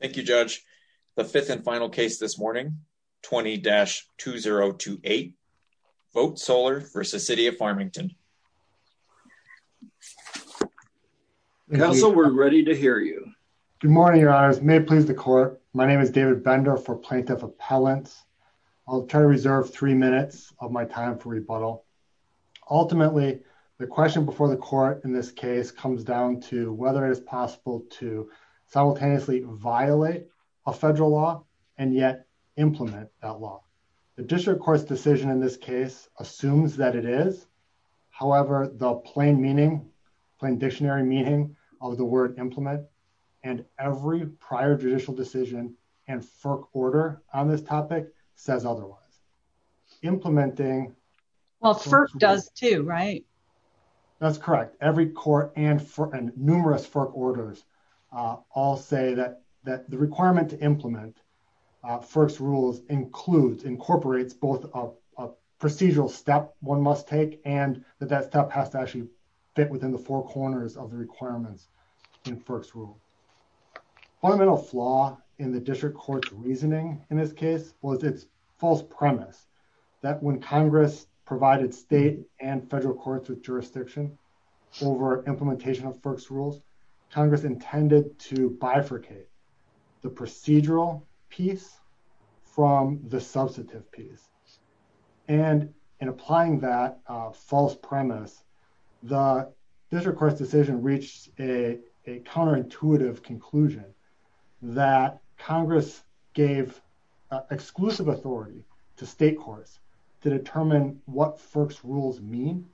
Thank you, Judge. The fifth and final case this morning, 20-2028. Vote Solar v. City of Farmington. Counsel, we're ready to hear you. Good morning, Your Honors. May it please the Court, my name is David Bender for Plaintiff Appellants. I'll try to reserve three minutes of my time for rebuttal. Ultimately, the question before the Court in this case comes down to whether it is violate a federal law and yet implement that law. The District Court's decision in this case assumes that it is. However, the plain meaning, plain dictionary meaning of the word implement and every prior judicial decision and FERC order on this topic says otherwise. Implementing... Well, FERC does too, right? That's correct. Every court and numerous FERC orders all say that the requirement to implement FERC's rules includes, incorporates both a procedural step one must take and that that step has to actually fit within the four corners of the requirements in FERC's rules. Fundamental flaw in the District Court's reasoning in this case was its false premise that when Congress provided state and federal courts with jurisdiction over implementation of FERC's rules, Congress intended to bifurcate the procedural piece from the substantive piece. And in applying that false premise, the District Court's decision reached a counterintuitive conclusion that Congress gave exclusive authority to state courts to determine what FERC's rules mean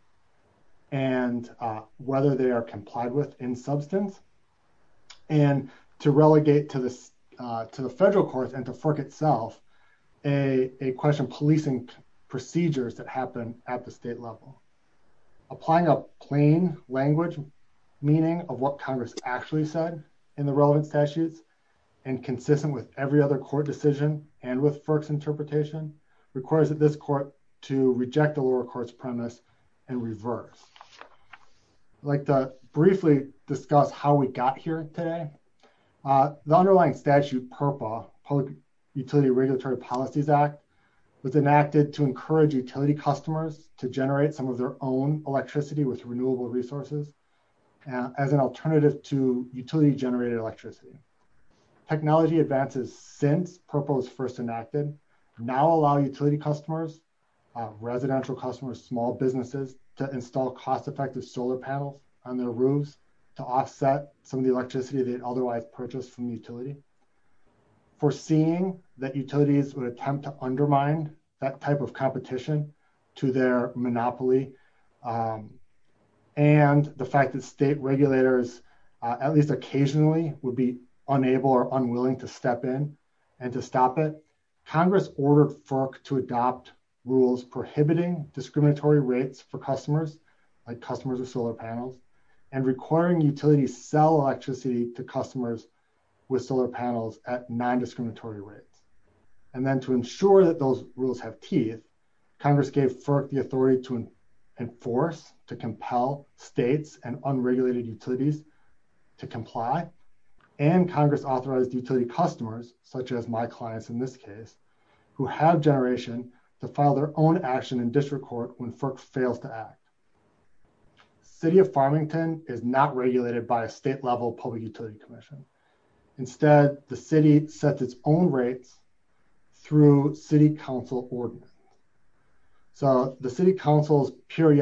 and whether they are complied with in substance and to relegate to the federal courts and to FERC itself, a question policing procedures that happen at the state level. Applying a plain language meaning of what Congress actually said in the relevant statutes and consistent with every other court decision and with FERC's court to reject the lower court's premise and reverse. I'd like to briefly discuss how we got here today. The underlying statute PURPA, Public Utility Regulatory Policies Act was enacted to encourage utility customers to generate some of their own electricity with renewable resources as an alternative to utility generated electricity. Technology advances since PURPA was first enacted now allow utility customers, residential customers, small businesses to install cost-effective solar panels on their roofs to offset some of the electricity they'd otherwise purchased from the utility. Foreseeing that utilities would attempt to undermine that type of competition to their monopoly and the fact that state regulators at least occasionally would be ordered FERC to adopt rules prohibiting discriminatory rates for customers like customers with solar panels and requiring utilities sell electricity to customers with solar panels at non-discriminatory rates. And then to ensure that those rules have teeth, Congress gave FERC the authority to enforce, to compel states and unregulated utilities to comply and Congress authorized utility customers such as my clients in this case who have generation to file their own action in district court when FERC fails to act. City of Farmington is not regulated by a state-level public utility commission. Instead the city sets its own rates through city council ordinance. So the city council's full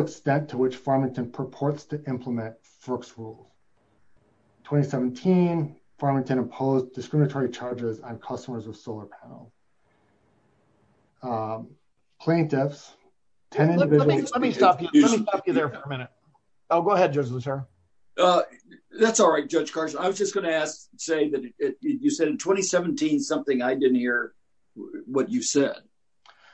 extent to which Farmington purports to implement FERC's rules. 2017, Farmington imposed discriminatory charges on customers with solar panels. Plaintiffs, 10 individuals. Let me stop you there for a minute. Go ahead, Judge Luttrell. That's all right, Judge Carson. I was just going to say that you said in 2017 something I didn't what you said.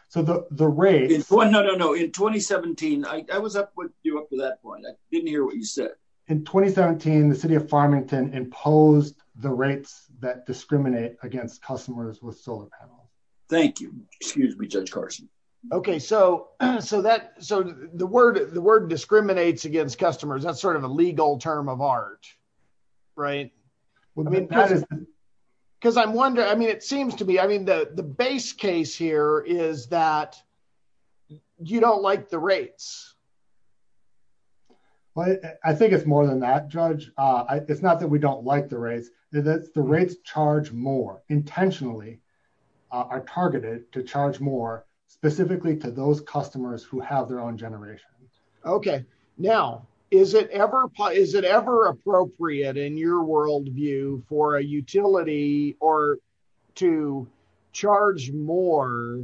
So the rate is... No, no, no. In 2017, I was up with you up to that point. I didn't hear what you said. In 2017, the city of Farmington imposed the rates that discriminate against customers with solar panels. Thank you. Excuse me, Judge Carson. Okay. So the word discriminates against customers. That's sort of a legal term of art, right? Because I'm wondering, it seems to me, the base case here is that you don't like the rates. I think it's more than that, Judge. It's not that we don't like the rates. The rates charge more intentionally, are targeted to charge more specifically to those customers who have their own generation. Okay. Now, is it ever appropriate in your worldview for a utility or to charge more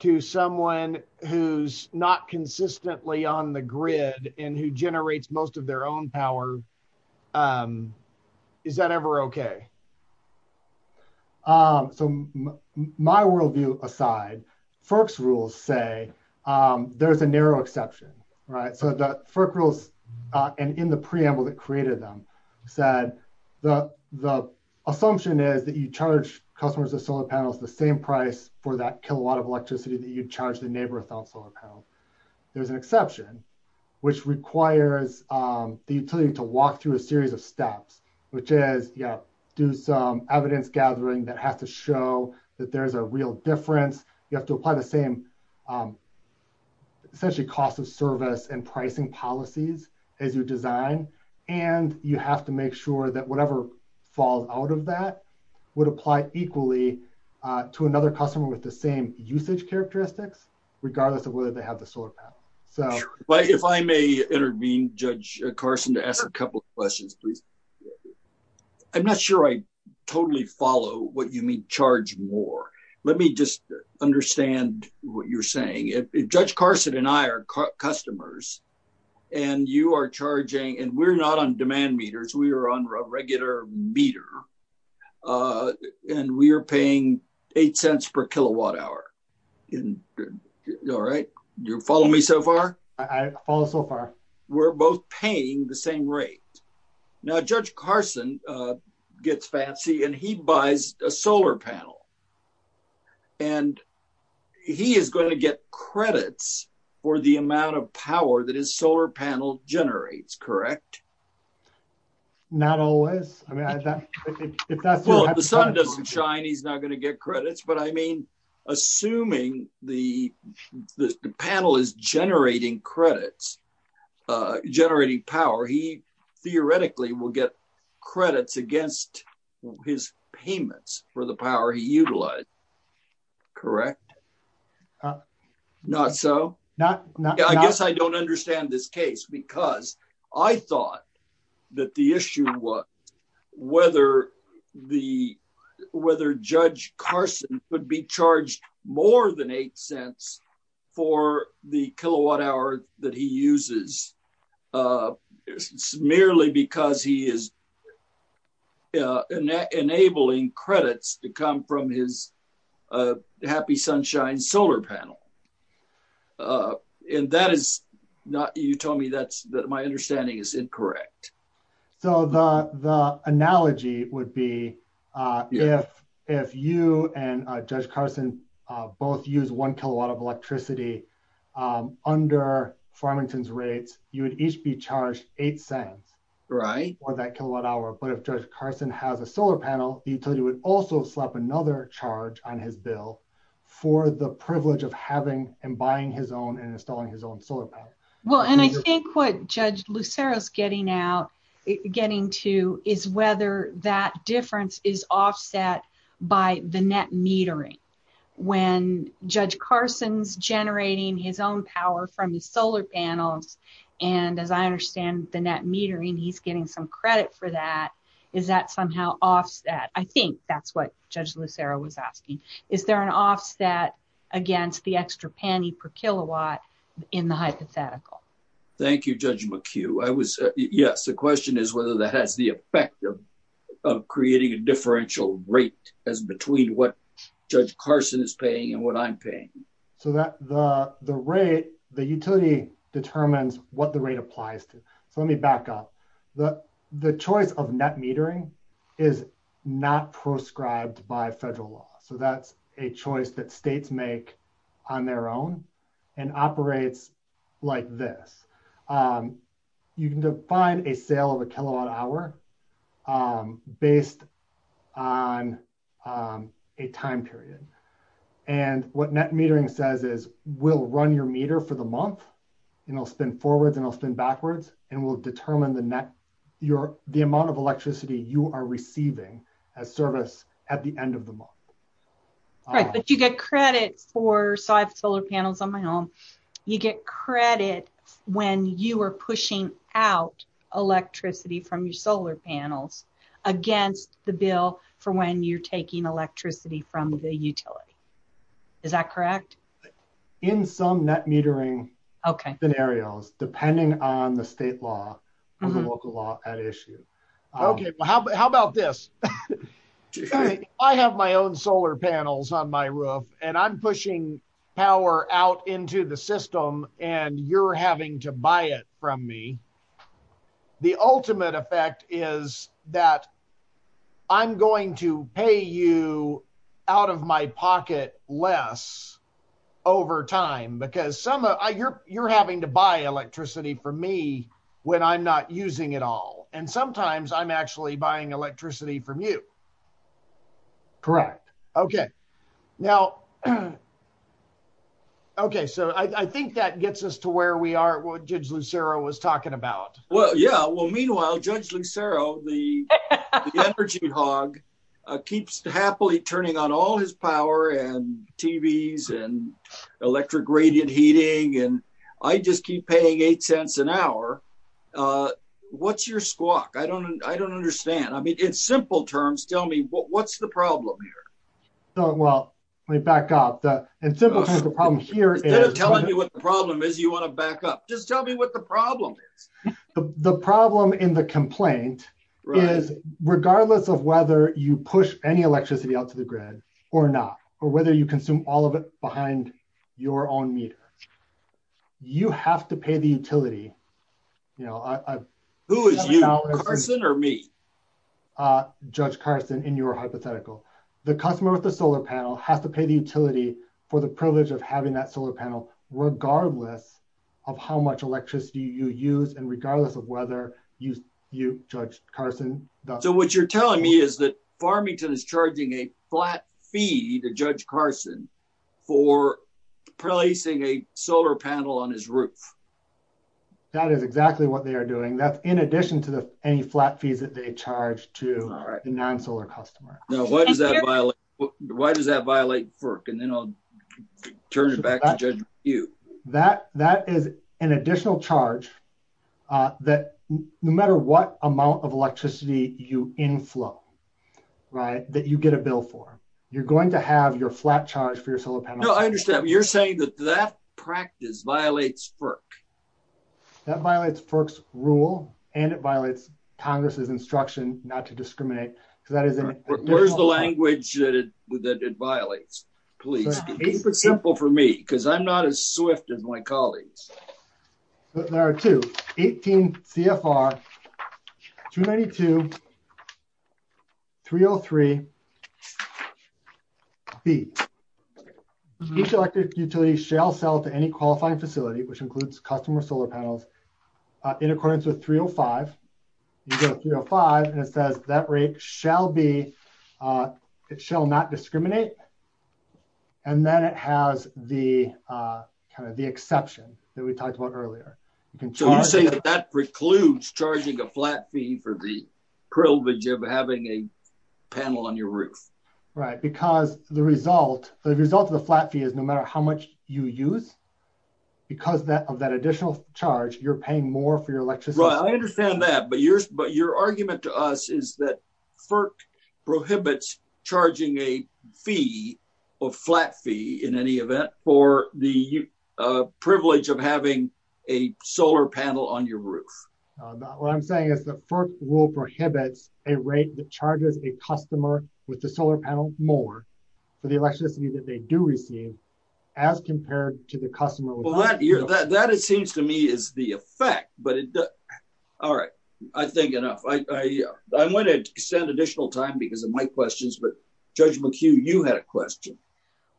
to someone who's not consistently on the grid and who generates most of their own power? Is that ever okay? So my worldview aside, FERC's rules say there's a narrow exception, right? So the FERC rules and in the preamble that created them said the assumption is that you charge customers with solar panels the same price for that kilowatt of electricity that you charge the neighbor without solar panels. There's an exception, which requires the utility to walk through a series of steps, which is do some evidence gathering that has to show that there's a real difference. You have to apply the same essentially cost of service and pricing policies as you design, and you have to make sure that whatever falls out of that would apply equally to another customer with the same usage characteristics, regardless of whether they have the solar panel. If I may intervene, Judge Carson, to ask a couple of questions, please. I'm not sure I totally follow what you mean charge more. Let me just understand what you're and you are charging, and we're not on demand meters, we are on a regular meter, and we are paying eight cents per kilowatt hour. All right, you follow me so far? I follow so far. We're both paying the same rate. Now Judge Carson gets fancy and he buys a solar panel, and he is going to get credits for the power that the solar panel generates, correct? Not always. Well, if the sun doesn't shine, he's not going to get credits, but I mean, assuming the panel is generating credits, generating power, he theoretically will get credits against his payments for the power he utilized, correct? Not so. I guess I don't understand this case because I thought that the issue was whether Judge Carson would be charged more than eight cents for the kilowatt hour that he uses uh it's merely because he is uh enabling credits to come from his uh happy sunshine solar panel uh and that is not you told me that's that my understanding is incorrect. So the the analogy would be uh if if you and Judge Carson both use one kilowatt of electricity um under Farmington's rates, you would each be charged eight cents right for that kilowatt hour, but if Judge Carson has a solar panel, the utility would also slap another charge on his bill for the privilege of having and buying his own and installing his own solar panel. Well, and I think what Judge Lucero's getting out getting to is whether that difference is offset by the net metering when Judge Carson's generating his own power from his solar panels and as I understand the net metering, he's getting some credit for that. Is that somehow offset? I think that's what Judge Lucero was asking. Is there an offset against the extra penny per kilowatt in the hypothetical? Thank you, Judge McHugh. I was, yes, the question is whether that has the effect of creating a differential rate as between what Judge Carson is paying and what I'm paying. So that the the rate the utility determines what the rate applies to. So let me back up the the choice of net metering is not proscribed by federal law. So that's a choice that states make on their own and operates like this. You can define a sale of a kilowatt hour based on a time period and what net metering says is we'll run your meter for the month and I'll spin forwards and I'll spin backwards and we'll determine the net your the amount of electricity you are receiving as service at the end of the month. Right, but you get credit for, so I have solar panels on my home, you get credit when you are pushing out electricity from your solar panels against the bill for when you're taking electricity from the utility. Is that correct? In some net metering scenarios depending on the state law or the local law at issue. Okay, well how about this? I have my own solar panels on my roof and I'm pushing power out into the system and you're having to buy it from me. The ultimate effect is that I'm going to pay you out of my pocket less over time because you're having to buy electricity for me when I'm not using it all and sometimes I'm actually buying electricity from you. Correct. Okay, so I think that gets us to where we are what Judge Lucero was talking about. Well yeah, well meanwhile Judge Lucero, the energy hog, keeps happily turning on all his power and TVs and electric radiant heating and I just keep paying eight cents an hour. What's your squawk? I don't understand. I mean in simple terms tell me what's the problem here? Well, let me back up. In simple terms the problem here is... Instead of telling me what the problem is you want to back up. Just tell me what the problem is. The problem in the complaint is regardless of whether you push any electricity out to the grid or not or whether you consume all of it behind your own meter, you have to pay the utility. Who is you? Carson or me? Judge Carson in your hypothetical. The customer with the solar panel has to pay the utility for the privilege of having that solar panel regardless of how much electricity you use and regardless of whether you, Judge Carson... So what you're telling me is that Farmington is charging a flat fee to Judge Carson for placing a solar panel on his roof. That is exactly what they are doing. That's in addition to the any flat fees that they charge to the non-solar customer. Now why does that violate FERC and then I'll turn it back to you. That is an additional charge that no matter what amount of electricity you inflow that you get a bill for. You're going to have your flat charge for your solar panel. You're saying that that practice violates FERC? That violates FERC's rule and it violates Congress's instruction not to discriminate. Where's the language that it violates? Please be simple for me because I'm not as swift as my colleagues. There are two 18 CFR 292 303 B. Each electric utility shall sell to any qualifying facility which includes customer solar panels in accordance with 305. You go to 305 and it says that rate shall not discriminate and then it has the exception that we talked about earlier. So you're saying that precludes charging a flat fee for the privilege of having a panel on your roof? Right because the result of the flat fee is no matter how much you use because of that additional charge you're paying more for your electricity. I understand that but your argument to us is that FERC prohibits charging a fee or flat fee in any event for the privilege of having a solar panel on your roof. What I'm saying is the FERC rule prohibits a rate that charges a customer with the solar panel more for the electricity that they do receive as compared to the customer. That it seems to me is the effect but all right I think enough. I'm going to extend additional time because of my questions but Judge McHugh you had a question.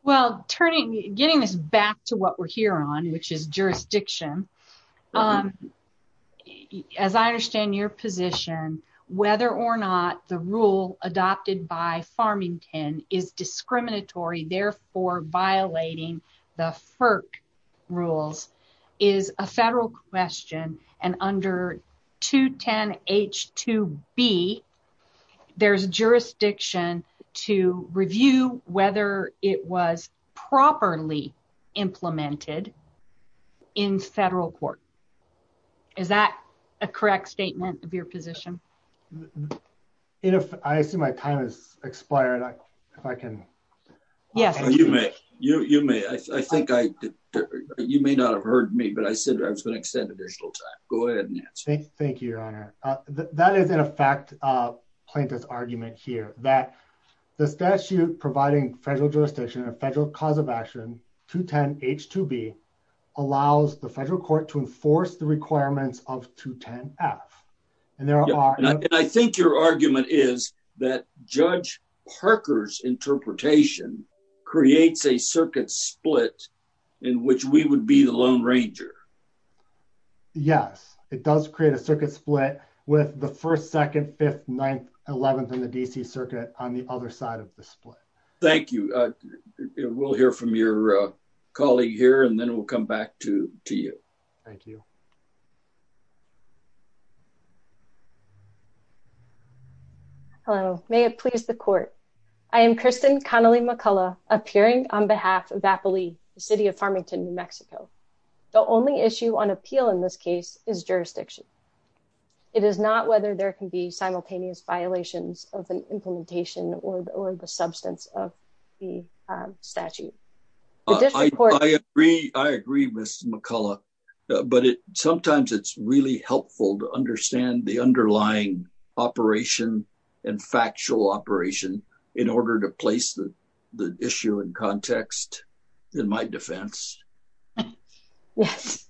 Well turning getting this back to what we're here on which is jurisdiction. As I understand your position whether or not the rule adopted by Farmington is discriminatory therefore violating the FERC rules is a federal question and under 210 H2B there's jurisdiction to review whether it was properly implemented in federal court. Is that a correct statement of your opinion? You may not have heard me but I said I was going to extend additional time. Go ahead. Thank you your honor. That is in effect plaintiff's argument here that the statute providing federal jurisdiction a federal cause of action 210 H2B allows the federal court to enforce the requirements of 210 F and there are and I think your argument is that Judge Parker's interpretation creates a circuit split in which we would be the lone ranger. Yes it does create a circuit split with the first second fifth ninth eleventh in the DC circuit on the other side of the split. Thank you. We'll hear from your colleague here and then we'll come back to you. Thank you. Hello may it please the court. I am Kristen Connelly McCullough appearing on behalf of Appalee the city of Farmington, New Mexico. The only issue on appeal in this case is jurisdiction. It is not whether there can be simultaneous violations of an implementation or the substance of the statute. I agree I agree with McCullough but it sometimes it's really helpful to understand the underlying operation and factual operation in order to place the issue in context in my defense. Yes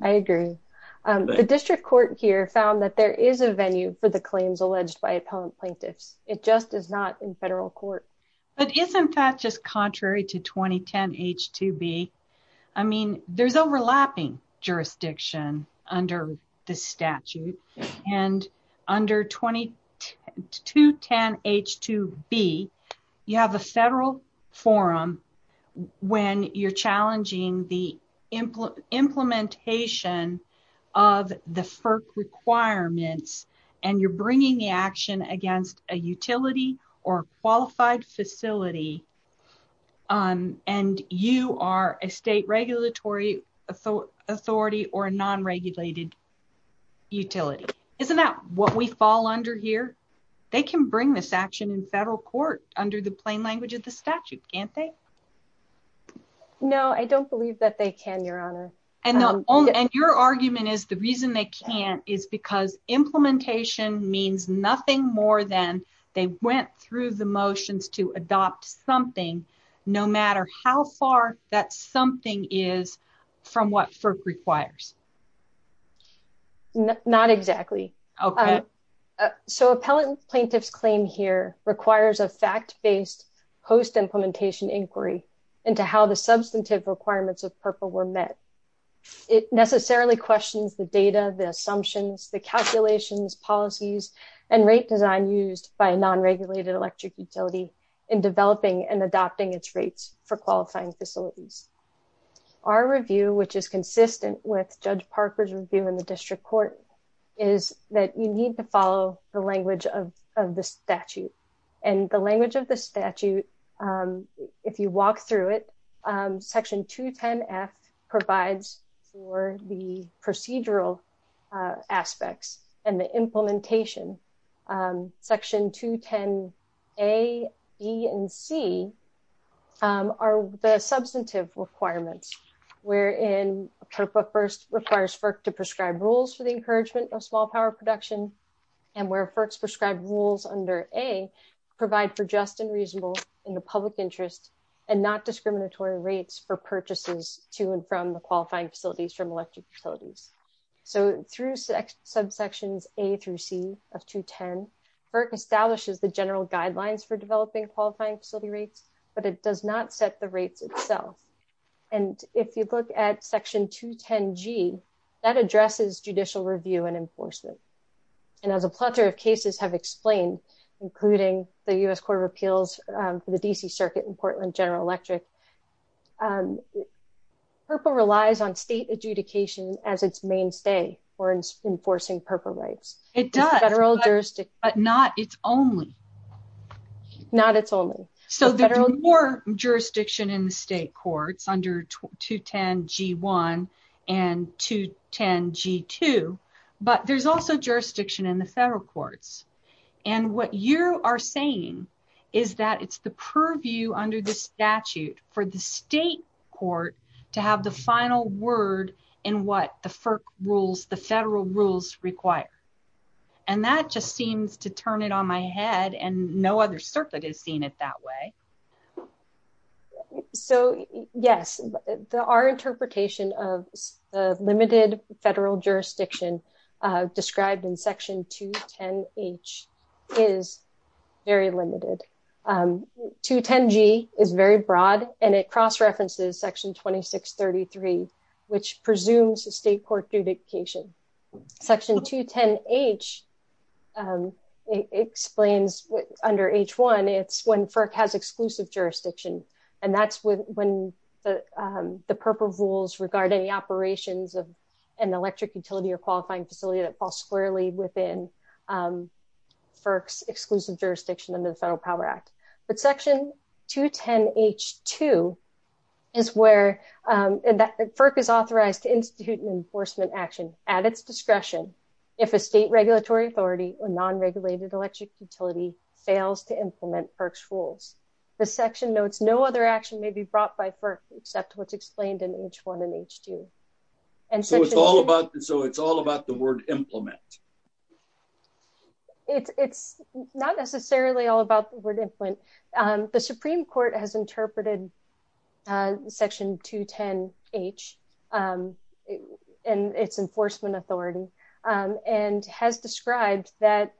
I agree. The district court here found that there is a venue for the claims alleged by appellant plaintiffs. It just is not in federal court. But isn't that just contrary to 2010 H2B. I mean there's overlapping jurisdiction under the statute and under 2210 H2B you have a federal forum when you're challenging the implementation of the FERC requirements and you're bringing the action against a utility or qualified facility and you are a state regulatory authority or a non-regulated utility. Isn't that what we fall under here? They can bring this action in federal court under the plain language of the statute can't they? No I don't believe that they can your honor. And your argument is the reason they can't is because implementation means nothing more than they went through the motions to adopt something no matter how far that something is from what FERC requires. Not exactly. So appellant plaintiffs claim here requires a fact-based post-implementation inquiry into how the substantive requirements of purple were met. It necessarily questions the data, the assumptions, the calculations, policies, and rate design used by a non-regulated electric utility in developing and adopting its rates for qualifying facilities. Our review which is consistent with Judge Parker's review in the district court is that you need to follow the language of the statute. And the language of the statute if you walk through it section 210-f provides for the procedural aspects and the implementation. Section 210-a, b, and c are the substantive requirements wherein purple first requires FERC to prescribe rules for the encouragement of small power production and where FERC's prescribed rules under a provide for just and reasonable in the public interest and not discriminatory rates for purchases to and from the qualifying facilities from electric utilities. So through subsections a through c of 210 FERC establishes the general guidelines for developing qualifying facility rates but it does not set the rates itself. And if you look at section 210-g that including the U.S. Court of Appeals for the D.C. Circuit in Portland General Electric, purple relies on state adjudication as its mainstay for enforcing purple rates. It does but not its only. Not its only. So there's more jurisdiction in the state courts under 210-g1 and 210-g2 but there's also jurisdiction in the federal courts. And what you are saying is that it's the purview under the statute for the state court to have the final word in what the FERC rules the federal rules require. And that just seems to turn it on my head and no other is seen it that way. So yes. Our interpretation of the limited federal jurisdiction described in section 210-h is very limited. 210-g is very broad and it cross references section 2633 which presumes the state court adjudication. Section 210-h explains under h1 it's when FERC has exclusive jurisdiction and that's when the purple rules regard any operations of an electric utility or qualifying facility that falls squarely within FERC's exclusive jurisdiction under the FERC is authorized to institute an enforcement action at its discretion if a state regulatory authority or non-regulated electric utility fails to implement FERC's rules. The section notes no other action may be brought by FERC except what's explained in h1 and h2. So it's all about the word implement. It's not necessarily all about the word implement. The supreme court has interpreted section 210-h and its enforcement authority and has described that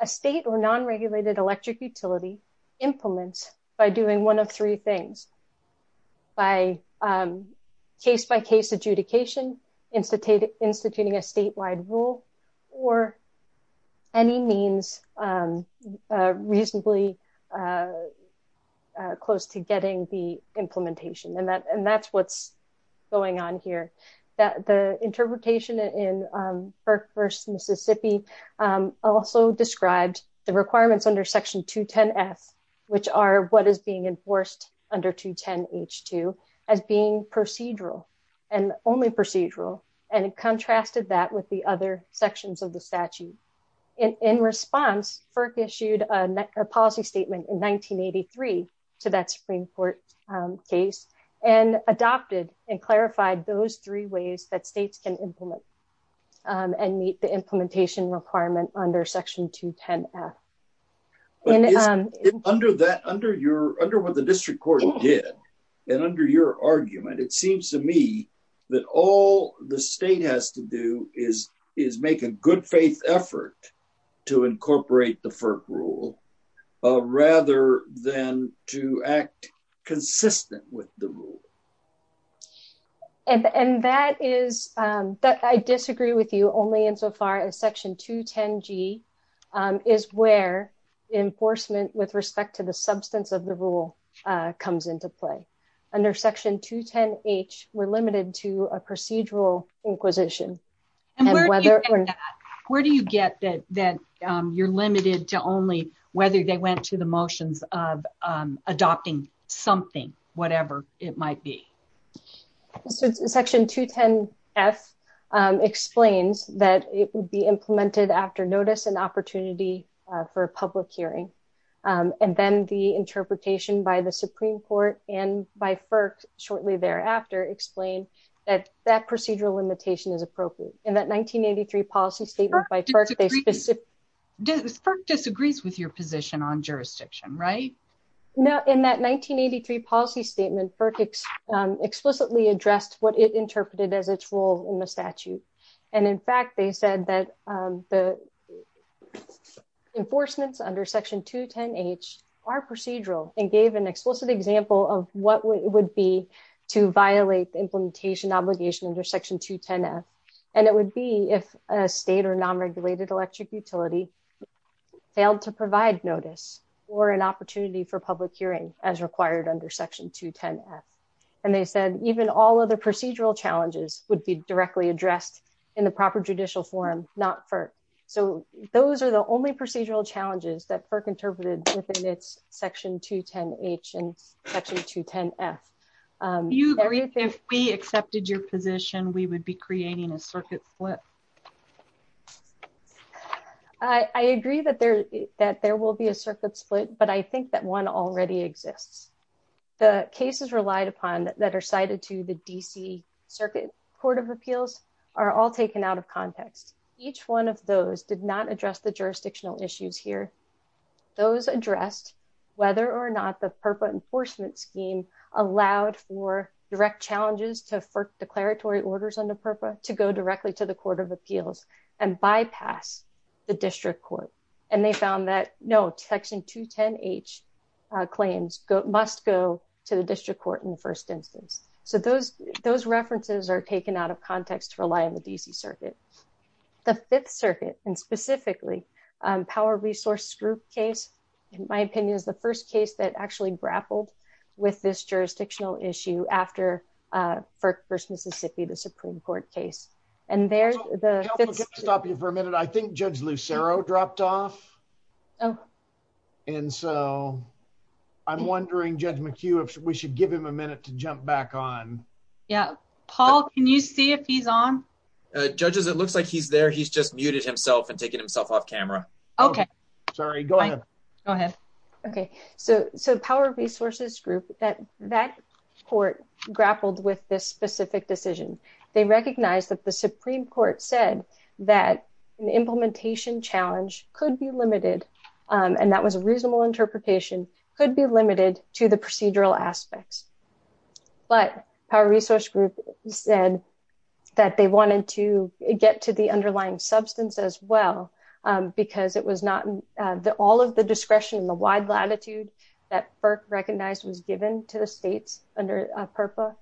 a state or non-regulated electric utility implements by doing one of three things. By case-by-case adjudication, instituting a statewide rule or any means reasonably close to getting the implementation and that's what's going on here. The interpretation in FERC v. Mississippi also described the requirements under section 210-f which are what is being enforced under 210-h2 as being procedural and only procedural and contrasted that with the other sections of the statute. In response, FERC issued a policy statement in 1983 to that supreme court case and adopted and clarified those three ways that states can implement and meet the implementation requirement under section 210-f. Under what the district court did and under your argument, it seems to me that all the state has to do is make a good faith effort to incorporate the FERC rule rather than to act consistent with the rule. And that is that I disagree with you only insofar as section 210-g is where enforcement with respect to the substance of the rule comes into play. Under section 210-h, we're limited to a procedural inquisition. And where do you get that you're limited to only whether they went to the motions of adopting something, whatever it might be? So section 210-f explains that it would be implemented after notice and opportunity for a public hearing. And then the interpretation by the supreme court and by FERC shortly thereafter explain that that procedural limitation is appropriate. In that 1983 policy statement by FERC, they specifically... FERC disagrees with your position on jurisdiction, right? In that 1983 policy statement, FERC explicitly addressed what it interpreted as its role in the statute. And in fact, they said that the enforcements under section 210-h are procedural and gave an explicit example of what it would be to violate the implementation obligation under section 210-f. And it would be if a state or non-regulated electric utility failed to provide notice or an opportunity for public hearing as required under section 210-f. And they said, even all other procedural challenges would be directly addressed in the proper judicial forum, not FERC. So those are the only procedural challenges that FERC interpreted within its section 210-h and section 210-f. Do you agree if we accepted your position, we would be creating a circuit split? I agree that there will be a circuit split, but I think that one already exists. The cases relied upon that are cited to the DC Circuit Court of Appeals are all taken out of context. Each one of those did not address the jurisdictional issues here. Those addressed, whether or not the FERPA enforcement scheme allowed for direct challenges to FERC declaratory orders on the FERPA to go directly to the Court of Appeals and bypass the district court. And they found that no, section 210-h claims must go to the district court in the first instance. So those references are taken out of context to rely on the DC Circuit. The Fifth Circuit and specifically Power Resource Group case, in my opinion, is the first case that actually grappled with this jurisdictional issue after FERC versus Mississippi, the Supreme Court case. I think Judge Lucero dropped off. And so I'm wondering, Judge McHugh, if we should give him a minute to jump back on. Yeah. Paul, can you see if he's on? Judges, it looks like he's there. He's just muted himself and taking himself off camera. Okay. Sorry. Go ahead. Go ahead. Okay. So Power Resources Group, that court grappled with this specific decision. They recognized that the Supreme Court said that an implementation challenge could be limited, and that was a reasonable interpretation, could be limited to the procedural aspects. But Power Resource Group said that they wanted to get to the underlying substance as well, because it was not... All of the discretion and the wide latitude that FERC recognized was given to the states under PURPA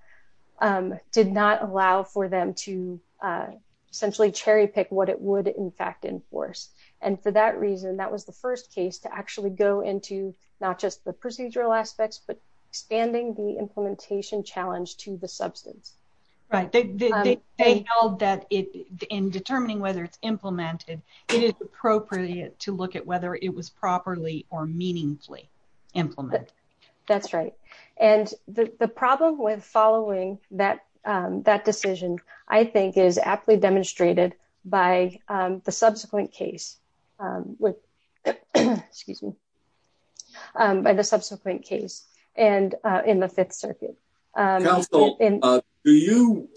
did not allow for them to essentially cherry pick what it would, in fact, enforce. And for that reason, that was the first case to actually go into not just the procedural aspects, but expanding the in determining whether it's implemented, it is appropriate to look at whether it was properly or meaningfully implemented. That's right. And the problem with following that decision, I think, is aptly demonstrated by the subsequent case with... Excuse me. By the subsequent case and in the Fifth Circuit. Counsel, do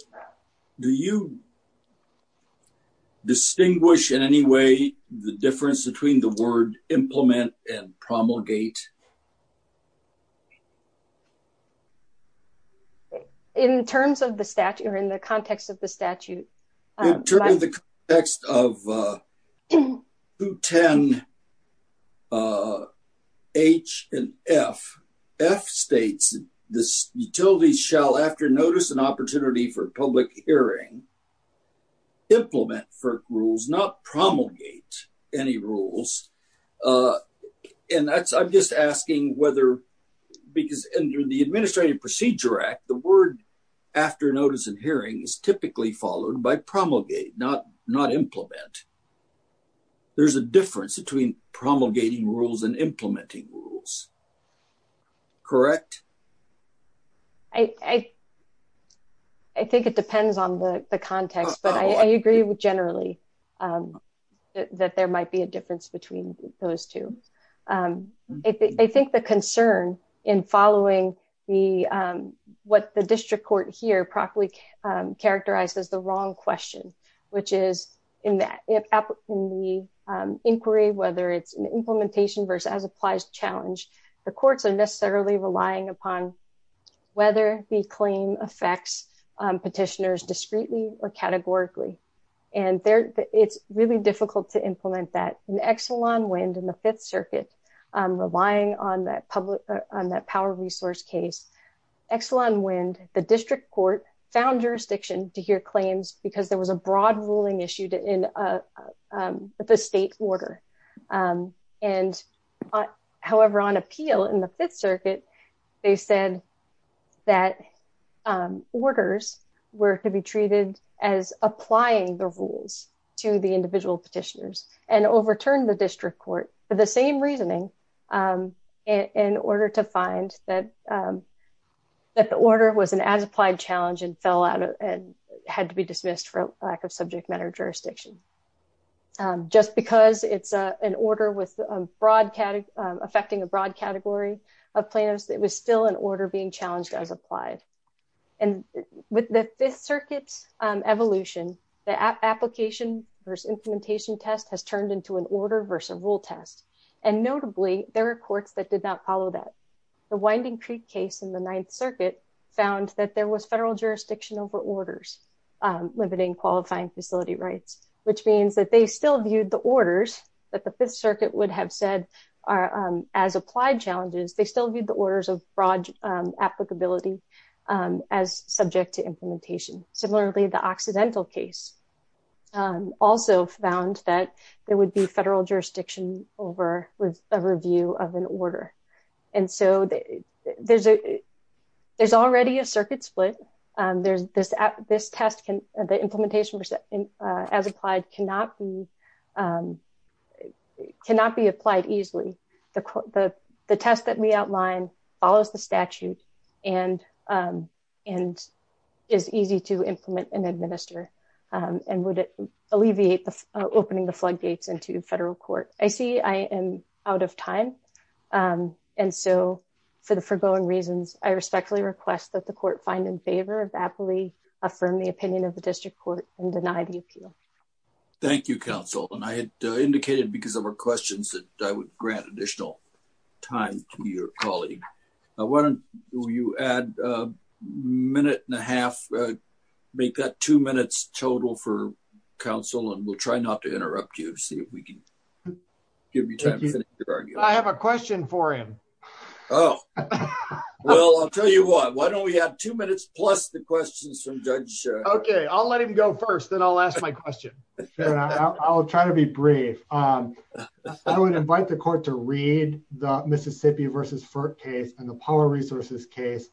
you distinguish in any way the difference between the word implement and promulgate? In terms of the statute or in the context of the statute... In terms of the context of 210H and F, F states, the utilities shall, after notice and opportunity for public hearing, implement FERC rules, not promulgate any rules. And I'm just asking whether... Because under the Administrative Procedure Act, the word after notice and hearing is typically followed by promulgate, not implement. There's a difference between promulgating rules and implementing rules. Correct? I think it depends on the context, but I agree with generally that there might be a difference between those two. I think the concern in following the... What the district court here properly characterized as the wrong question, which is in the inquiry, whether it's an implementation versus as applies challenge, the courts are necessarily relying upon whether the claim affects petitioners discreetly or categorically. And it's really difficult to implement that. In Exelon Wind and the Fifth Circuit, relying on that power resource case, Exelon Wind, the district court found jurisdiction to hear claims because there was a broad ruling issued in the state order. However, on appeal in the Fifth Circuit, they said that orders were to be treated as applying the rules to the individual petitioners and overturned the district court for the same reasoning in order to find that the order was an as applied challenge and fell out and had to be dismissed for lack of subject matter jurisdiction. Just because it's an order with broad... Affecting a broad category of plaintiffs, it was still an order being challenged as applied. And with the Fifth Circuit's evolution, the application versus implementation test has turned into an order versus rule test. And notably, there are courts that did not follow that. The Winding Creek case in the Ninth Circuit found that there was federal jurisdiction over orders limiting qualifying facility rights, which means that they still viewed the orders that the Fifth Circuit would have said as applied challenges. They still viewed the orders of broad applicability as subject to the Fifth Circuit's rule test. And so, the Winding Creek case also found that there would be federal jurisdiction over a review of an order. And so, there's already a circuit split. This test, the implementation as applied cannot be applied easily. The test that we outline follows the and would alleviate the opening the floodgates into federal court. I see I am out of time. And so, for the foregoing reasons, I respectfully request that the court find in favor of aptly affirm the opinion of the district court and deny the appeal. Thank you, counsel. And I had indicated because there were questions that I would grant additional time to your colleague. Why don't you add a minute and a half, make that two minutes total for counsel, and we'll try not to interrupt you to see if we can give you time to finish your argument. I have a question for him. Oh, well, I'll tell you what, why don't we have two minutes plus the questions from Judge? Okay, I'll let him go first, then I'll ask my question. I'll try to be brief. I would invite the court to read the Mississippi versus FERC case and the power resources case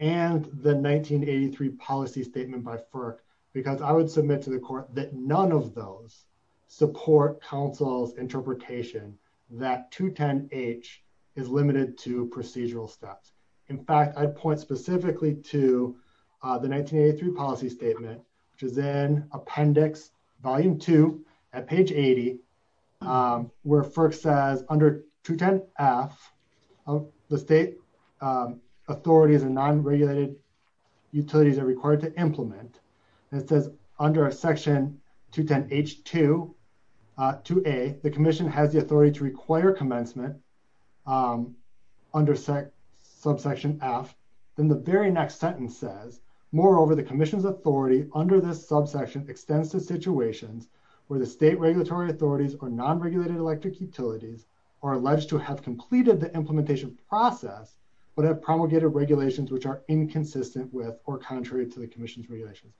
and the 1983 policy statement by FERC because I would submit to the court that none of those support counsel's interpretation that 210H is limited to procedural steps. In fact, I'd point specifically to the 1983 policy statement, which is in appendix volume two at page 80, where FERC says under 210F, the state authorities and non-regulated utilities are required to implement. And it says under a section 210H2, 2A, the commission has the authority to require commencement under subsection F, then the very next sentence says, moreover, the commission's authority under this subsection extends to situations where the state regulatory authorities or non-regulated electric utilities are alleged to have completed the implementation process, but have promulgated regulations which are inconsistent with or contrary to the commission's regulations.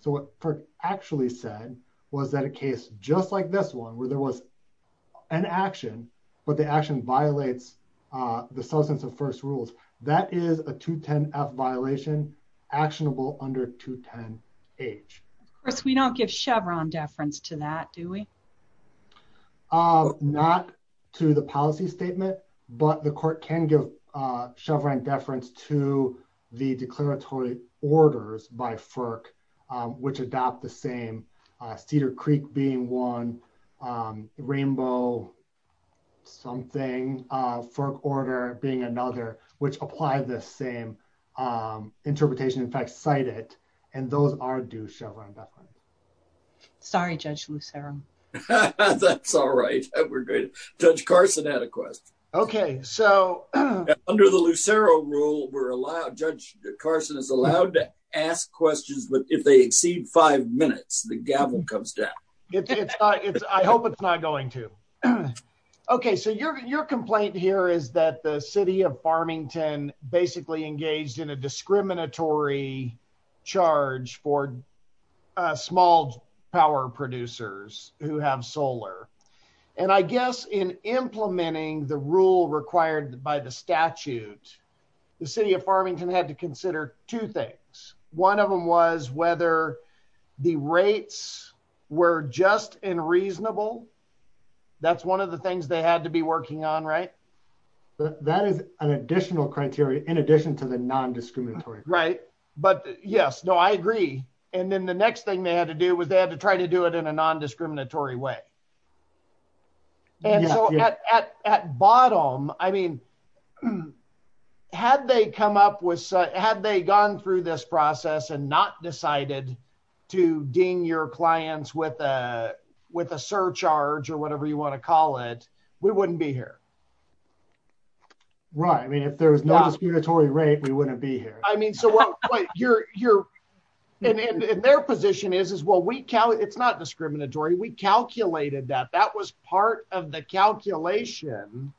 So what FERC actually said was that a case just like this one, where there was an action, but the action violates the substance of first rules, that is a 210F violation actionable under 210H. Of course, we don't give Chevron deference to that, do we? Not to the policy statement, but the court can give Chevron deference to the declaratory orders by FERC, which adopt the same Cedar Creek being one, Rainbow something, FERC order being another, which apply the same interpretation, in fact, cite it, and those are due Chevron deference. Sorry, Judge Lucero. That's all right. We're good. Judge Carson had a question. Okay, so under the Lucero rule, we're allowed, Judge Carson is allowed to ask questions, but if they exceed five minutes, the gavel comes down. I hope it's not going to. Okay, so your complaint here is that the city of Farmington basically engaged in a discriminatory charge for small power producers who have solar, and I guess in implementing the rule required by the statute, the city of Farmington had to consider two things. One of them was whether the rates were just unreasonable. That's one of the things they had to be working on, right? That is an additional criteria in addition to the non-discriminatory. Right, but yes, no, I agree, and then the next thing they had to do was they had to consider whether or not they were discriminatory. And so, at bottom, I mean, had they come up with, had they gone through this process and not decided to ding your clients with a surcharge or whatever you want to call it, we wouldn't be here. Right, I mean, if there was no discriminatory rate, we wouldn't be here. I mean, and their position is, well, it's not discriminatory. We calculated that. That was part of the calculation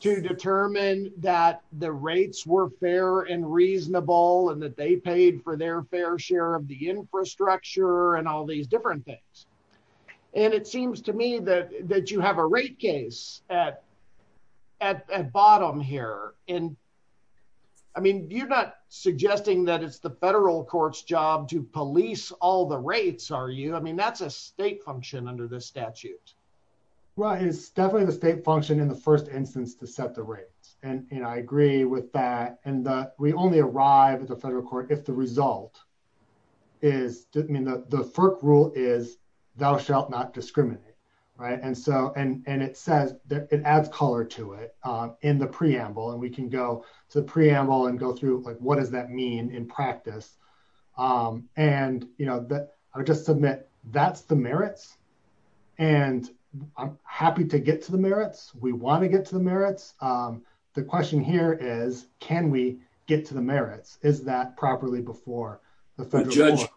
to determine that the rates were fair and reasonable and that they paid for their fair share of the infrastructure and all these different things. And it seems to me that you have a rate case at bottom here. I mean, you're not suggesting that it's the federal court's job to police all the rates, are you? I mean, that's a state function under the statute. Well, it's definitely the state function in the first instance to set the rates, and I agree with that. And we only arrive at the federal court if the result is, I mean, the FERC rule is thou shalt not discriminate, right? And so, and it says, it adds color to it in the preamble, and we can go to the preamble and go through, like, what does that mean in practice? And, you know, I would just submit that's the merits, and I'm happy to get to the merits. We want to get to the merits. The question here is, can we get to the merits? Is that properly before the federal court? With Judge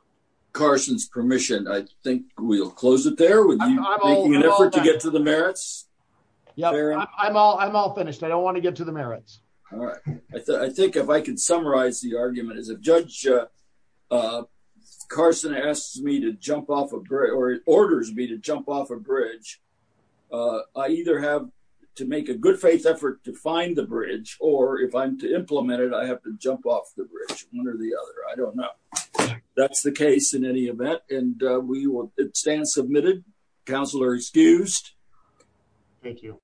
Carson's permission, I think we'll close it there with you making an effort to get to the merits. Yeah, I'm all finished. I don't want to get to the merits. All right. I think if I can summarize the argument is if Judge Carson asks me to jump off a bridge or orders me to jump off a bridge, I either have to make a good faith effort to find the bridge, or if I'm to implement it, I have to jump off the bridge, one or the other. I don't know. That's the case in any event, and we will stand submitted. Counselor excused. Thank you.